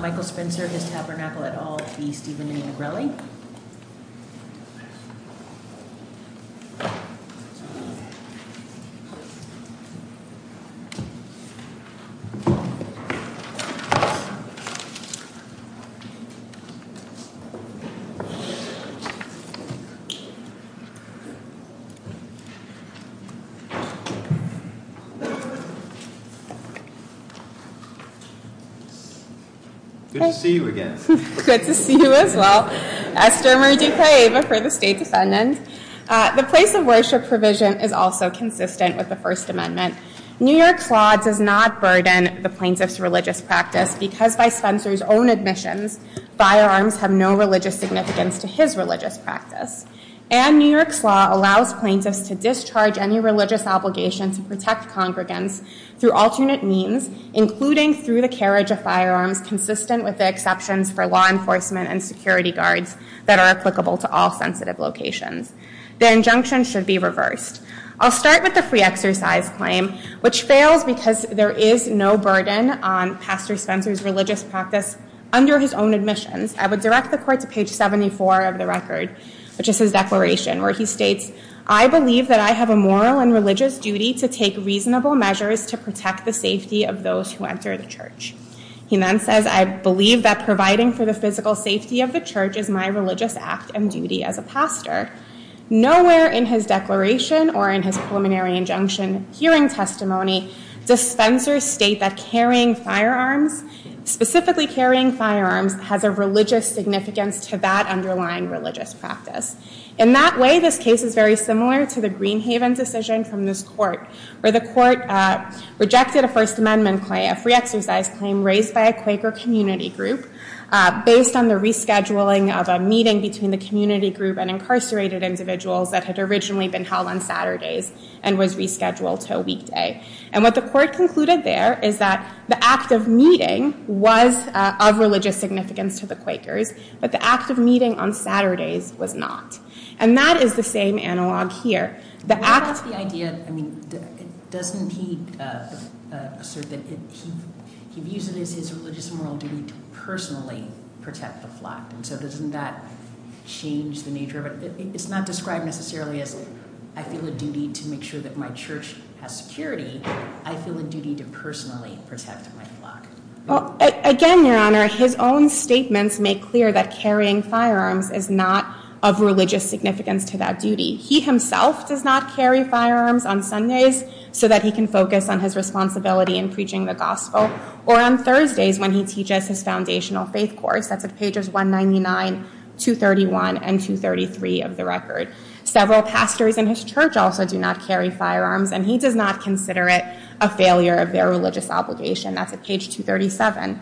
Michael Spencer, Tabernacle et al., v. Stephen Nigrelli Good to see you again. Good to see you as well. Esther Marie de Cueva for the State Defendant. The place of worship provision is also consistent with the First Amendment. New York's law does not burden the plaintiff's religious practice, because by Spencer's own admissions, firearms have no religious significance to his religious practice. And New York's law allows plaintiffs to discharge any religious obligation to protect congregants through alternate means, including through the carriage of firearms consistent with the exceptions for law enforcement and security guards that are applicable to all sensitive locations. The injunction should be reversed. I'll start with the free exercise claim, which fails because there is no burden on Pastor Spencer's religious practice under his own admissions. I would direct the court to page 74 of the record, which is his declaration, where he states, I believe that I have a moral and religious duty to take reasonable measures to protect the safety of those who enter the church. He then says, I believe that providing for the physical safety of the church is my religious act and duty as a pastor. Nowhere in his declaration or in his preliminary injunction hearing testimony does Spencer state that carrying firearms, specifically carrying firearms, has a religious significance to that underlying religious practice. In that way, this case is very similar to the Greenhaven decision from this court, where the court rejected a First Claim raised by a Quaker community group based on the rescheduling of a meeting between the community group and incarcerated individuals that had originally been held on Saturdays and was rescheduled to a weekday. And what the court concluded there is that the act of meeting was of religious significance to the Quakers, but the act of meeting on Saturdays was not. And that is the same analog here. The act of the idea, I mean, doesn't he assert that he views it as his religious and moral duty to personally protect the flock? And so doesn't that change the nature of it? It's not described necessarily as, I feel a duty to make sure that my church has security. I feel a duty to personally protect my flock. Well, again, Your Honor, his own statements make clear that carrying firearms He himself does not carry firearms on Sundays so that he can focus on his responsibility in preaching the gospel, or on Thursdays when he teaches his foundational faith course. That's at pages 199, 231, and 233 of the record. Several pastors in his church also do not carry firearms, and he does not consider it a failure of their religious obligation. That's at page 237.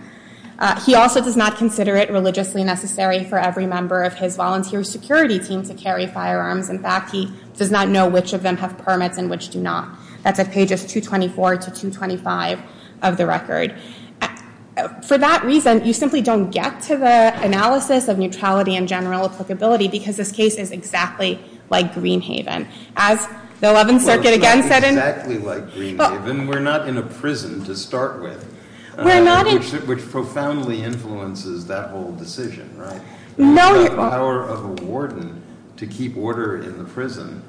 He also does not consider it religiously necessary for every member of his volunteer security team to carry firearms. In fact, he does not know which of them have permits and which do not. That's at pages 224 to 225 of the record. For that reason, you simply don't get to the analysis of neutrality and general applicability, because this case is exactly like Greenhaven. As the 11th Circuit again said in- It's not exactly like Greenhaven. We're not in a prison to start with, which profoundly influences that whole decision, right? No, Your Honor. You have the power of a warden to keep order in the prison.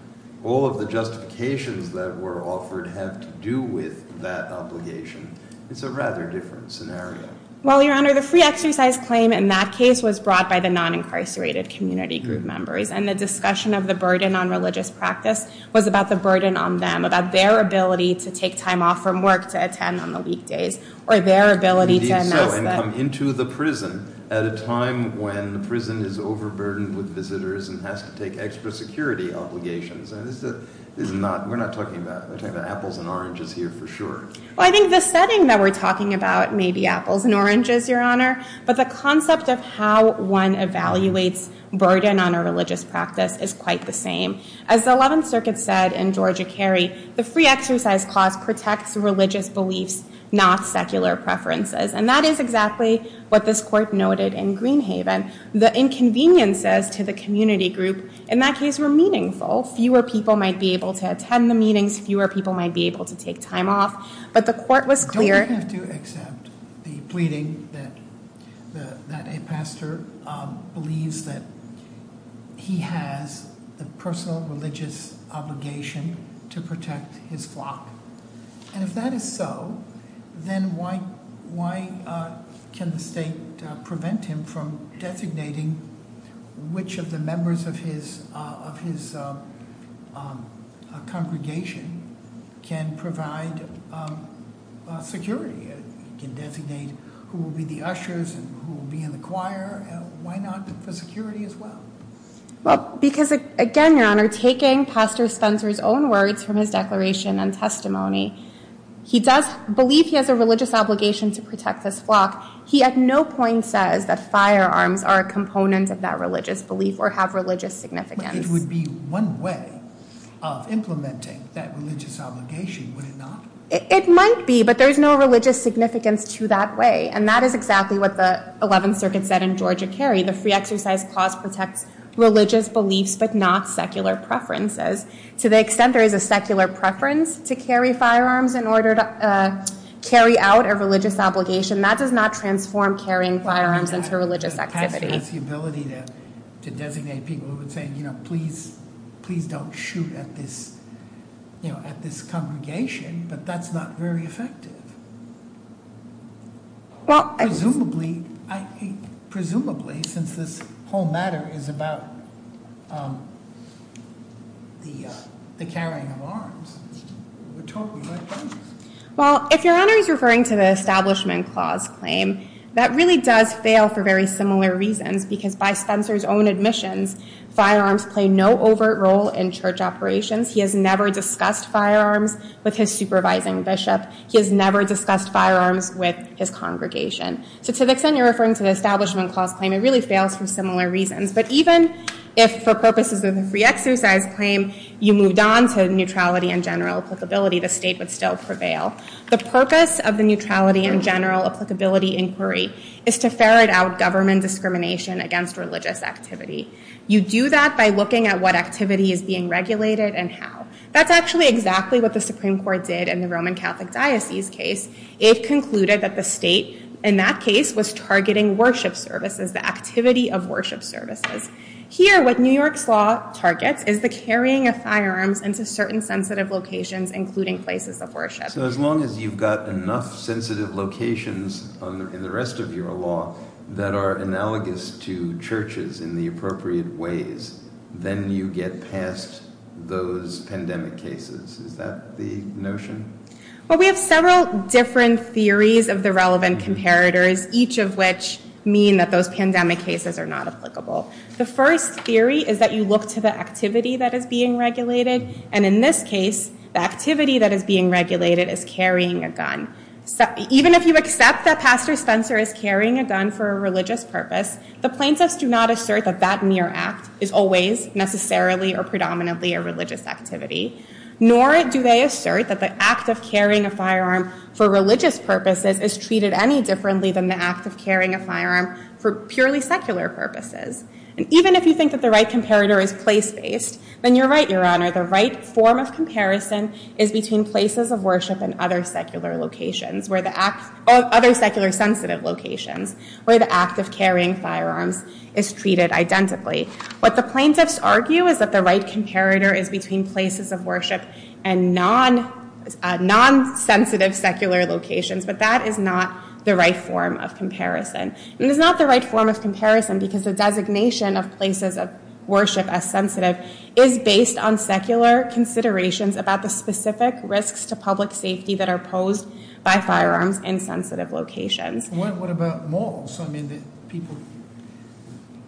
All of the justifications that were offered have to do with that obligation. It's a rather different scenario. Well, Your Honor, the free exercise claim in that case was brought by the non-incarcerated community group members, and the discussion of the burden on religious practice was about the burden on them, about their ability to take time off from work to attend on the weekdays, or their ability to- at a time when the prison is overburdened with visitors and has to take extra security obligations. We're not talking about apples and oranges here for sure. Well, I think the setting that we're talking about may be apples and oranges, Your Honor, but the concept of how one evaluates burden on a religious practice is quite the same. As the 11th Circuit said in Georgia Kerry, the free exercise clause protects religious beliefs, not secular preferences. And that is exactly what this court noted in Greenhaven. The inconveniences to the community group in that case were meaningful. Fewer people might be able to attend the meetings. Fewer people might be able to take time off. But the court was clear. Don't we have to accept the pleading that a pastor believes that he has the personal religious obligation to protect his flock? And if that is so, then why can the state prevent him from designating which of the members of his congregation can provide security? He can designate who will be the ushers and who will be in the choir. Why not for security as well? Well, because again, Your Honor, taking Pastor Spencer's own words from his declaration and testimony, he does believe he has a religious obligation to protect this flock. He at no point says that firearms are a component of that religious belief or have religious significance. But it would be one way of implementing that religious obligation, would it not? It might be. But there is no religious significance to that way. And that is exactly what the 11th Circuit said in Georgia Kerry. The free exercise clause protects religious beliefs, but not secular preferences. To the extent there is a secular preference to carry firearms in order to carry out a religious obligation, that does not transform carrying firearms into a religious activity. Well, I mean, that has to do with the ability to designate people who would say, please don't shoot at this congregation. But that's not very effective, presumably since this whole matter is about the carrying of arms. We're talking about guns. Well, if Your Honor is referring to the Establishment Clause claim, that really does fail for very similar reasons. Because by Spencer's own admissions, firearms play no overt role in church operations. He has never discussed firearms with his supervising bishop. He has never discussed firearms with his congregation. So to the extent you're referring to the Establishment Clause claim, it really fails for similar reasons. But even if, for purposes of the free exercise claim, you moved on to neutrality and general applicability, the state would still prevail. The purpose of the neutrality and general applicability inquiry is to ferret out government discrimination against religious activity. You do that by looking at what activity is being regulated and how. That's actually exactly what the Supreme Court did in the Roman Catholic Diocese case. It concluded that the state, in that case, was targeting worship services, the activity of worship services. Here, what New York's law targets is the carrying of firearms into certain sensitive locations, including places of worship. So as long as you've got enough sensitive locations in the rest of your law that are analogous to churches in the appropriate ways, then you get past those pandemic cases. Is that the notion? Well, we have several different theories of the relevant comparators, each of which mean that those pandemic cases are not applicable. The first theory is that you look to the activity that is being regulated. And in this case, the activity that is being regulated is carrying a gun. Even if you accept that Pastor Spencer is carrying a gun for a religious purpose, the plaintiffs do not assert that that mere act is always necessarily or predominantly a religious activity, nor do they assert that the act of carrying a firearm for religious purposes is treated any differently than the act of carrying a firearm for purely secular purposes. place-based, then you're right, Your Honor. The right form of comparison is between places of worship and other secular sensitive locations where the act of carrying firearms is treated identically. What the plaintiffs argue is that the right comparator is between places of worship and non-sensitive secular locations. But that is not the right form of comparison. And it's not the right form of comparison because the designation of places of worship as sensitive is based on secular considerations about the specific risks to public safety that are posed by firearms in sensitive locations. What about malls? I mean, people,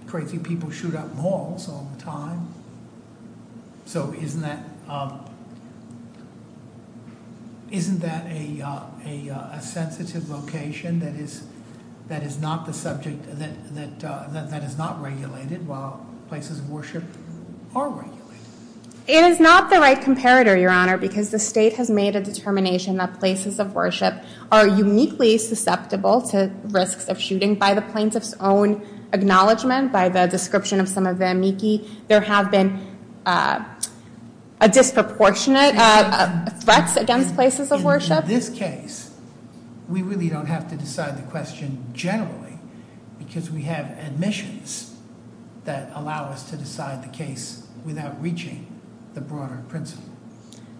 crazy people shoot up malls all the time. So isn't that a sensitive location that is not the subject, that is not regulated while places of worship are regulated? It is not the right comparator, Your Honor, because the state has made a determination that places of worship are uniquely susceptible to risks of shooting. By the plaintiff's own acknowledgment, by the description of some of the amici, there have been disproportionate threats against places of worship. In this case, we really don't have to decide the question generally because we have admissions that allow us to decide the case without reaching the broader principle.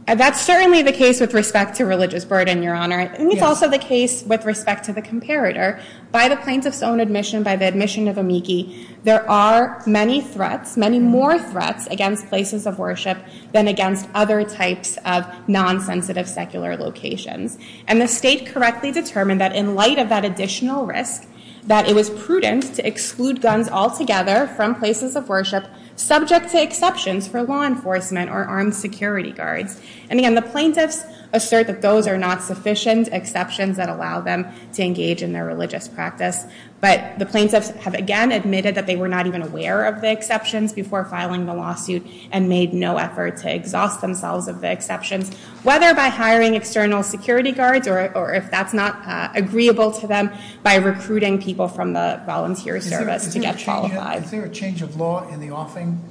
That's certainly the case with respect to religious burden, Your Honor. And it's also the case with respect to the comparator. By the plaintiff's own admission, by the admission of amici, there are many threats, many more threats against places of worship than against other types of non-sensitive secular locations. And the state correctly determined that in light of that additional risk, that it was prudent to exclude guns altogether from places of worship subject to exceptions for law enforcement or armed security guards. And again, the plaintiffs assert that those are not sufficient exceptions that allow them to engage in their religious practice. But the plaintiffs have, again, admitted that they were not even aware of the exceptions before filing the lawsuit and made no effort to exhaust themselves of the exceptions, whether by hiring external security guards or if that's not agreeable to them by recruiting people from the volunteer service to get qualified. Is there a change of law in the offing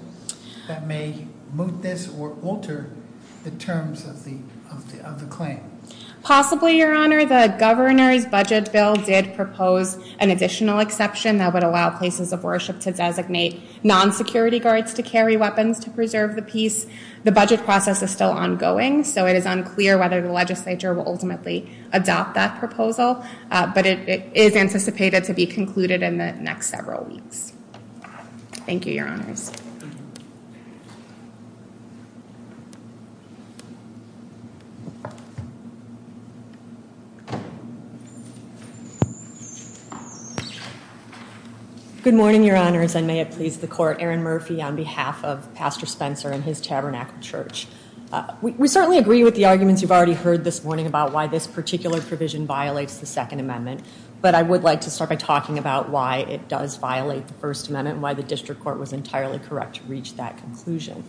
that may moot this or alter the terms of the claim? Possibly, Your Honor. The governor's budget bill did propose an additional exception that would allow places of worship to designate non-security guards to carry weapons to preserve the peace. The budget process is still ongoing, so it is unclear whether the legislature will ultimately adopt that proposal. But it is anticipated to be concluded in the next several weeks. Thank you, Your Honors. Good morning, Your Honors. And may it please the court, Aaron Murphy on behalf of Pastor Spencer and his Tabernacle Church. We certainly agree with the arguments you've already heard this morning about why this particular provision violates the Second Amendment. But I would like to start by talking about why it does violate the First Amendment and why the district court was entirely correct to reach that conclusion.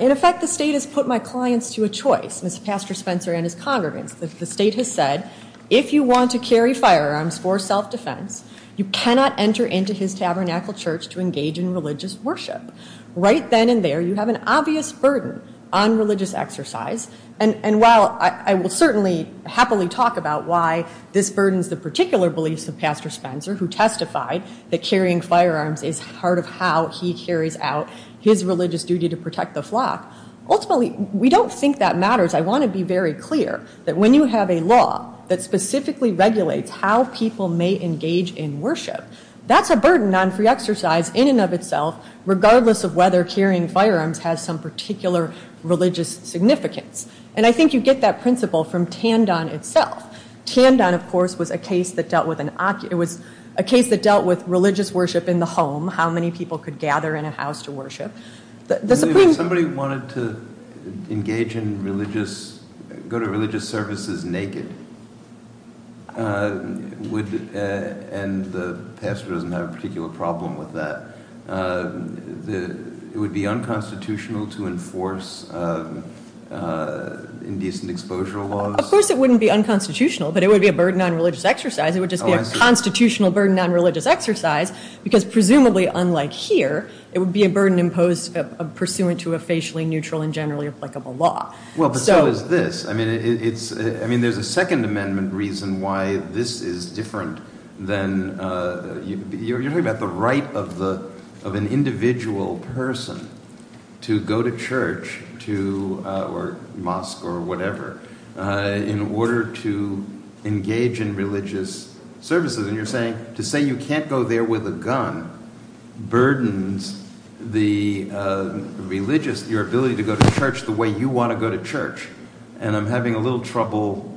In effect, the state has put my clients to a choice, Mr. Pastor Spencer and his congregants. The state has said, if you want to carry firearms for self-defense, you cannot enter into his Tabernacle Church to engage in religious worship. Right then and there, you have an obvious burden on religious exercise. And while I will certainly happily talk about why this burdens the particular beliefs of Pastor Spencer, who testified that carrying firearms is part of how he carries out his religious duty to protect the flock, ultimately, we don't think that matters. I want to be very clear that when you have a law that specifically regulates how people may engage in worship, that's a burden on free exercise in and of itself, regardless of whether carrying firearms has some particular religious significance. And I think you get that principle from Tandon itself. Tandon, of course, was a case that dealt with religious worship in the home, how many people could gather in a house to worship. If somebody wanted to engage in religious, go to religious services naked, and the pastor doesn't have a particular problem with that, it would be unconstitutional to enforce indecent exposure laws? Of course it wouldn't be unconstitutional, but it would be a burden on religious exercise. It would just be a constitutional burden on religious exercise, because presumably, unlike here, it would be a burden pursuant to a facially neutral and generally applicable law. Well, but so is this. I mean, there's a Second Amendment reason why this is different than, you're at the right of an individual person to go to church or mosque or whatever in order to engage in religious services. And you're saying, to say you can't go there with a gun burdens the religious, your ability to go to church the way you want to go to church. And I'm having a little trouble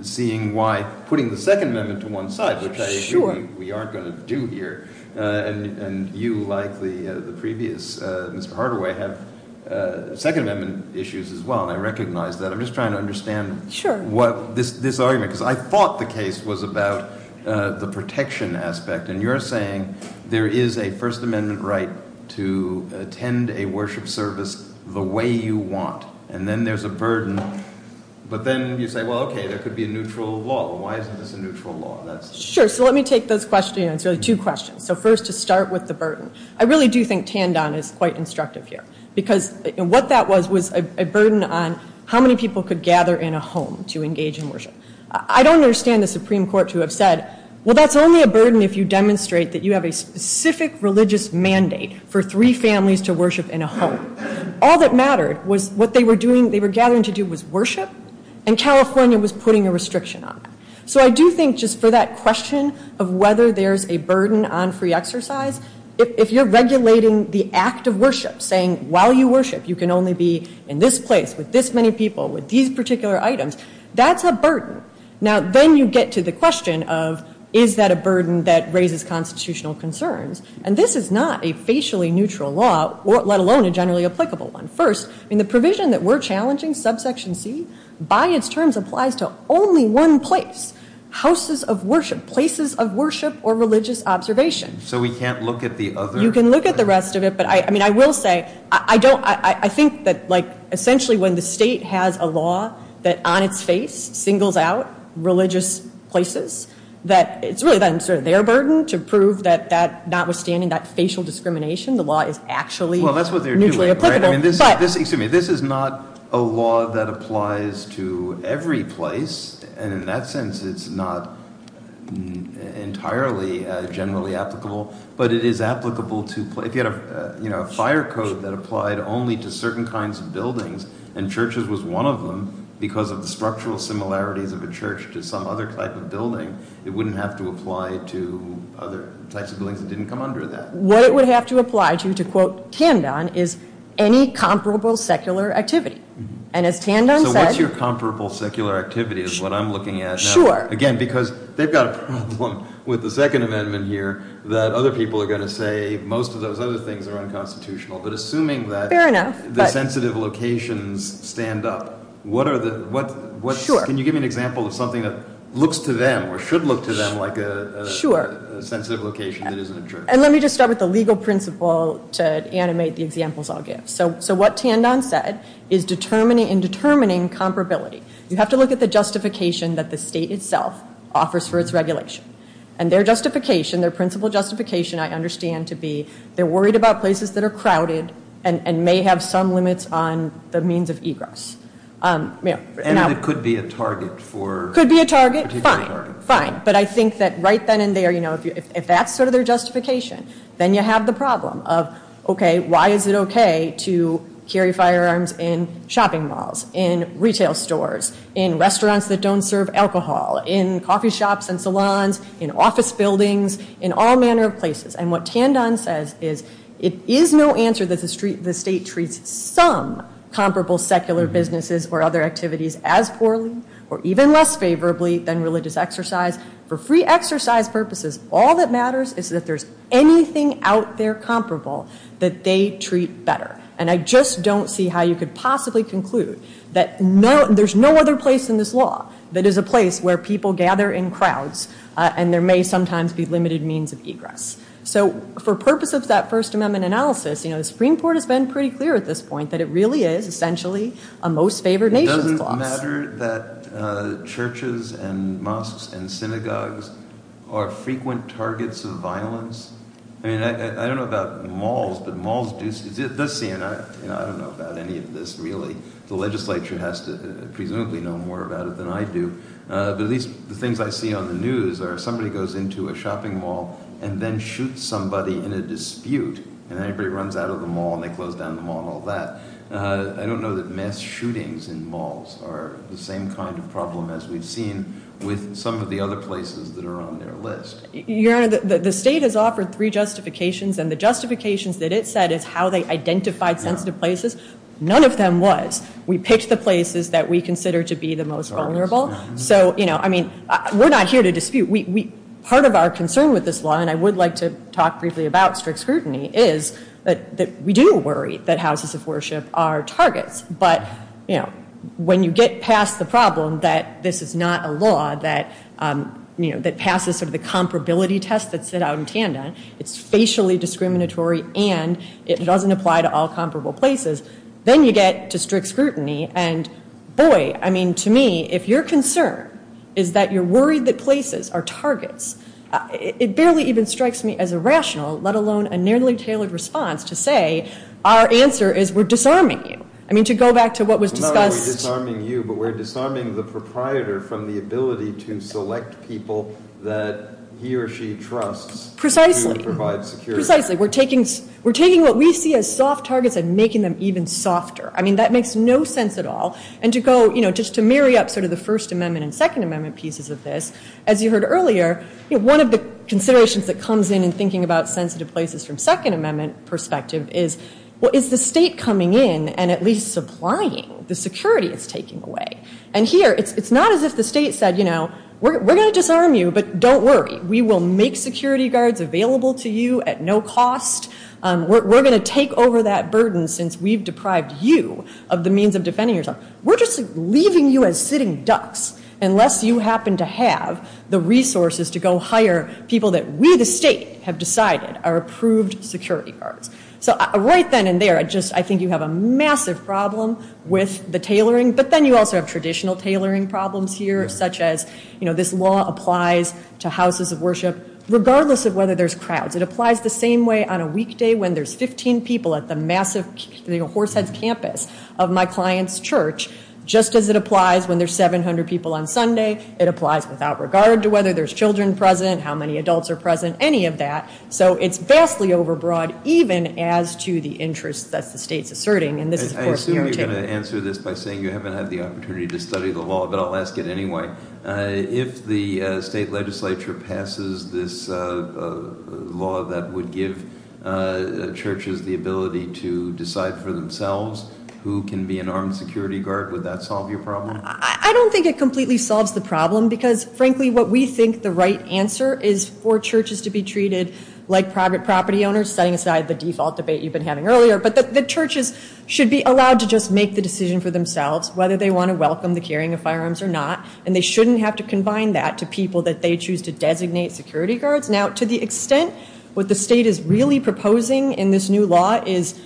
seeing why putting the Second Amendment to one side, which I agree we aren't going to do here. And you, like the previous Mr. Hardaway, have Second Amendment issues as well, and I recognize that. I'm just trying to understand this argument, because I thought the case was about the protection aspect. And you're saying there is a First Amendment right to attend a worship service the way you want, and then there's a burden. But then you say, well, OK, there could be a neutral law. Why isn't this a neutral law? Sure, so let me take those questions. It's really two questions. So first, to start with the burden. I really do think Tandon is quite instructive here, because what that was was a burden on how many people could gather in a home to engage in worship. I don't understand the Supreme Court to have said, well, that's only a burden if you demonstrate that you have a specific religious mandate for three families to worship in a home. All that mattered was what they were doing, they were gathering to do was worship, and California was putting a restriction on that. So I do think just for that question of whether there's a burden on free exercise, if you're regulating the act of worship, saying while you worship, you can only be in this place with this many people with these particular items, that's a burden. Now, then you get to the question of, is that a burden that raises constitutional concerns? And this is not a facially neutral law, let alone a generally applicable one. First, in the provision that we're challenging, subsection C, by its terms, applies to only one place. Houses of worship, places of worship, or religious observation. So we can't look at the other? You can look at the rest of it, but I mean, I will say, I think that essentially when the state has a law that, on its face, singles out religious places, that it's really their burden to prove that notwithstanding that facial discrimination, the law is actually neutrally applicable. Well, that's what they're doing. Excuse me, this is not a law that applies to every place. And in that sense, it's not entirely generally applicable. But it is applicable to, if you had a fire code that applied only to certain kinds of buildings, and churches was one of them, because of the structural similarities of a church to some other type of building, it wouldn't have to apply to other types of buildings that didn't come under that. What it would have to apply to, to quote Kandon, is any comparable secular activity. And as Kandon said. So what's your comparable secular activity is what I'm looking at. Sure. Again, because they've got a problem with the Second Amendment here that other people are going to say most of those other things are unconstitutional. But assuming that the sensitive locations stand up, can you give me an example of something that looks to them or should look to them like a sensitive location that isn't a church? And let me just start with the legal principle to animate the examples I'll give. So what Kandon said is in determining comparability, you have to look at the justification that the state itself offers for its regulation. And their justification, their principal justification I understand to be, they're worried about places that are crowded and may have some limits on the means of egress. And it could be a target for. Could be a target, fine. But I think that right then and there, if that's sort of their justification, then you have the problem of, OK, why is it OK to carry firearms in shopping malls, in retail stores, in restaurants that don't serve alcohol, in coffee shops and salons, in office buildings, in all manner of places. And what Kandon says is it is no answer that the state treats some comparable secular businesses or other activities as poorly or even less favorably than religious exercise. For free exercise purposes, all that matters is that there's anything out there comparable that they treat better. And I just don't see how you could possibly conclude that there's no other place in this law that is a place where people gather in crowds and there may sometimes be limited means of egress. So for purpose of that First Amendment analysis, the Supreme Court has been pretty clear at this point that it really is essentially a most favored nations clause. It doesn't matter that churches and mosques and synagogues are frequent targets of violence. I mean, I don't know about malls, but malls do see it. I don't know about any of this, really. The legislature has to presumably know more about it than I do. But at least the things I see on the news are if somebody goes into a shopping mall and then shoots somebody in a dispute, and everybody runs out of the mall and they close down the mall and all that, I don't know that mass shootings in malls are the same kind of problem as we've with some of the other places that are on their list. Your Honor, the state has offered three justifications. And the justifications that it said is how they identified sensitive places, none of them was. We picked the places that we consider to be the most vulnerable. So I mean, we're not here to dispute. Part of our concern with this law, and I would like to talk briefly about strict scrutiny, is that we do worry that houses of worship are targets. But when you get past the problem that this is not a law that passes sort of the comparability test that's set out in Tandon, it's facially discriminatory and it doesn't apply to all comparable places, then you get to strict scrutiny. And boy, I mean, to me, if your concern is that you're worried that places are targets, it barely even strikes me as irrational, let alone a nearly tailored response to say, our answer is we're disarming you. I mean, to go back to what was discussed. We're not only disarming you, but we're disarming the proprietor from the ability to select people that he or she trusts to provide security. Precisely, we're taking what we see as soft targets and making them even softer. I mean, that makes no sense at all. And to go, you know, just to marry up sort of the First Amendment and Second Amendment pieces of this, as you heard earlier, one of the considerations that comes in in thinking about sensitive places from Second Amendment perspective is, well, is the state coming in and at least supplying the security it's taking away? And here, it's not as if the state said, you know, we're gonna disarm you, but don't worry. We will make security guards available to you at no cost. We're gonna take over that burden since we've deprived you of the means of defending yourself. We're just leaving you as sitting ducks unless you happen to have the resources to go hire people that we, the state, have decided are approved security guards. So right then and there, I just, you have a massive problem with the tailoring, but then you also have traditional tailoring problems here, such as, you know, this law applies to houses of worship, regardless of whether there's crowds. It applies the same way on a weekday when there's 15 people at the massive, you know, Horseheads Campus of my client's church, just as it applies when there's 700 people on Sunday. It applies without regard to whether there's children present, how many adults are present, any of that. So it's vastly overbroad, even as to the interest that the state's asserting, and this is, of course- I assume you're gonna answer this by saying you haven't had the opportunity to study the law, but I'll ask it anyway. If the state legislature passes this law that would give churches the ability to decide for themselves who can be an armed security guard, would that solve your problem? I don't think it completely solves the problem because, frankly, what we think the right answer is for churches to be treated like private property owners, setting aside the default debate you've been having earlier, but the churches should be allowed to just make the decision for themselves, whether they wanna welcome the carrying of firearms or not, and they shouldn't have to combine that to people that they choose to designate security guards. Now, to the extent what the state is really proposing in this new law is,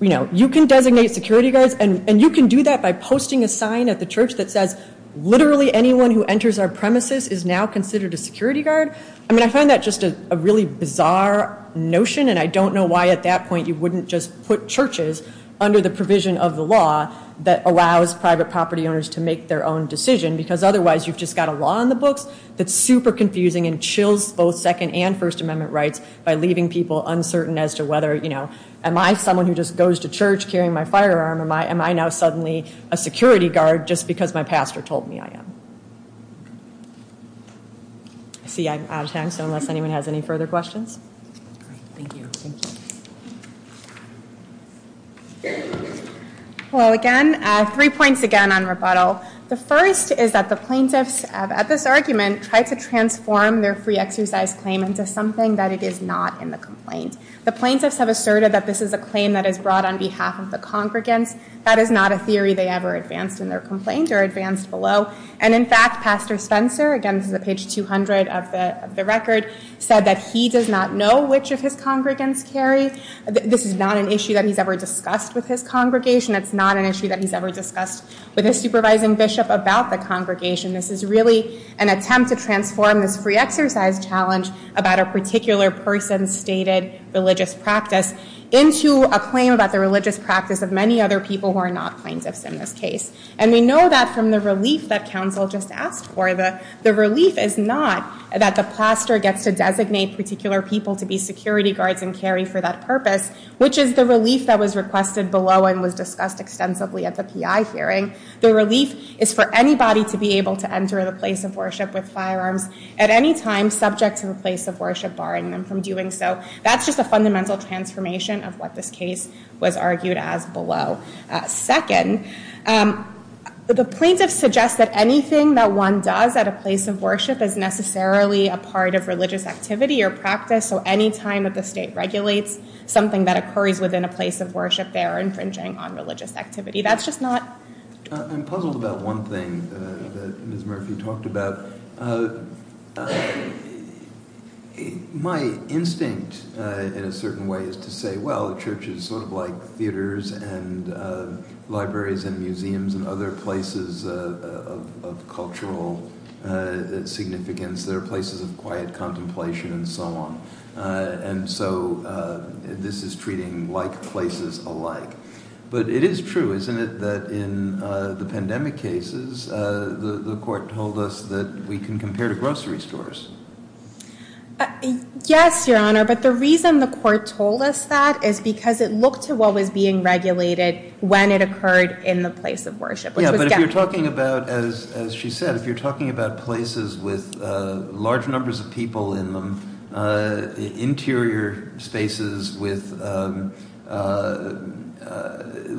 you know, you can designate security guards, and you can do that by posting a sign at the church that says literally anyone who enters our premises is now considered a security guard. I mean, I find that just a really bizarre notion, and I don't know why at that point you wouldn't just put churches under the provision of the law that allows private property owners to make their own decision, because otherwise you've just got a law in the books that's super confusing and chills both Second and First Amendment rights by leaving people uncertain as to whether, you know, am I someone who just goes to church carrying my firearm, or am I now suddenly a security guard just because my pastor told me I am? I see I'm out of time, so unless anyone has any further questions. Great, thank you. Thank you. Well, again, three points again on rebuttal. The first is that the plaintiffs at this argument tried to transform their free exercise claim into something that it is not in the complaint. The plaintiffs have asserted that this is a claim that is brought on behalf of the congregants. or advanced below, and it is not a theory that the plaintiffs And in fact, Pastor Spencer, again, this is at page 200 of the record, said that he does not know which of his congregants carry. This is not an issue that he's ever discussed with his congregation. It's not an issue that he's ever discussed with his supervising bishop about the congregation. This is really an attempt to transform this free exercise challenge about a particular person's stated religious practice into a claim about the religious practice of many other people who are not plaintiffs in this case. And we know that from the relief that counsel just asked for. The relief is not that the pastor gets to designate particular people to be security guards and carry for that purpose, which is the relief that was requested below and was discussed extensively at the PI hearing. The relief is for anybody to be able to enter the place of worship with firearms at any time subject to the place of worship, barring them from doing so. That's just a fundamental transformation of what this case was argued as below. Second, the plaintiffs suggest that anything that one does at a place of worship is necessarily a part of religious activity or practice. So any time that the state regulates something that occurs within a place of worship, they're infringing on religious activity. That's just not. I'm puzzled about one thing that Ms. Murphy talked about. My instinct in a certain way is to say, well, the church is sort of like theaters and libraries and museums and other places of cultural significance. There are places of quiet contemplation and so on. And so this is treating like places alike. But it is true, isn't it, that in the pandemic cases, the court told us that we can compare to grocery stores. Yes, Your Honor, but the reason the court told us that is because it looked to what was being regulated when it occurred in the place of worship. Yeah, but if you're talking about, as she said, if you're talking about places with large numbers of people in them, interior spaces with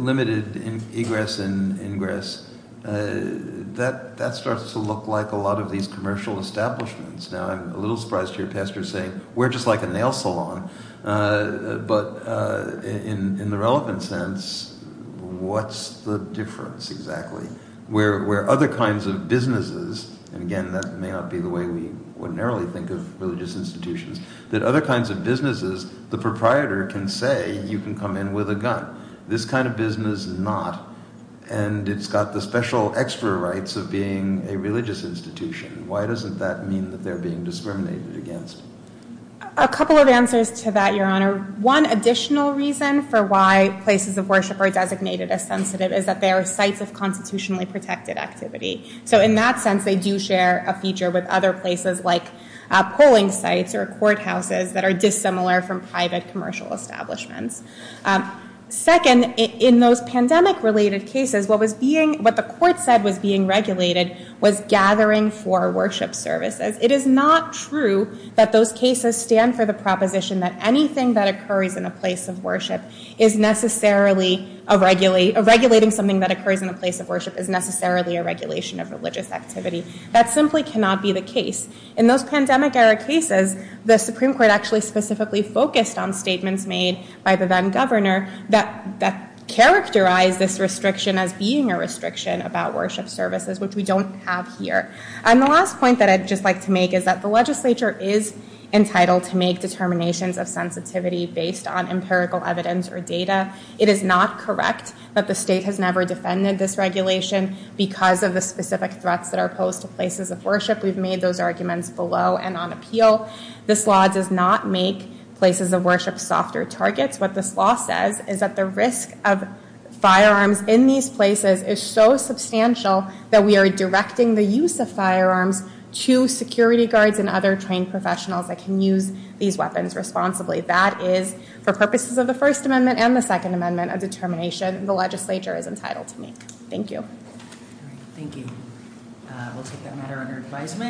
limited egress and ingress, that starts to look like a lot of these commercial establishments. Now, I'm a little surprised to hear pastors saying, we're just like a nail salon. But in the relevant sense, what's the difference exactly? Where other kinds of businesses, and again, that may not be the way we ordinarily think of religious institutions, that other kinds of businesses, the proprietor can say, you can come in with a gun. This kind of business not, and it's got the special extra rights of being a religious institution. Why doesn't that mean that they're being discriminated against? A couple of answers to that, Your Honor. One additional reason for why places of worship are designated as sensitive is that they are sites of constitutionally protected activity. So in that sense, they do share a feature with other places like polling sites or courthouses that are dissimilar from private commercial establishments. Second, in those pandemic-related cases, what the court said was being regulated was gathering for worship services. It is not true that those cases stand for the proposition that anything that occurs in a place of worship is necessarily a, regulating something that occurs in a place of worship is necessarily a regulation of religious activity. That simply cannot be the case. In those pandemic-era cases, the Supreme Court actually specifically focused on statements made by the then governor that characterized this restriction as being a restriction about worship services, which we don't have here. And the last point that I'd just like to make is that the legislature is entitled to make determinations of sensitivity based on empirical evidence or data. It is not correct that the state has never defended this regulation because of the specific threats that are posed to places of worship. We've made those arguments below and on appeal. This law does not make places of worship softer targets. What this law says is that the risk of firearms in these places is so substantial that we are directing the use of firearms to security guards and other trained professionals that can use these weapons responsibly. That is, for purposes of the First Amendment and the Second Amendment, a determination the legislature is entitled to make. Thank you. Thank you. We'll take that matter under advisement.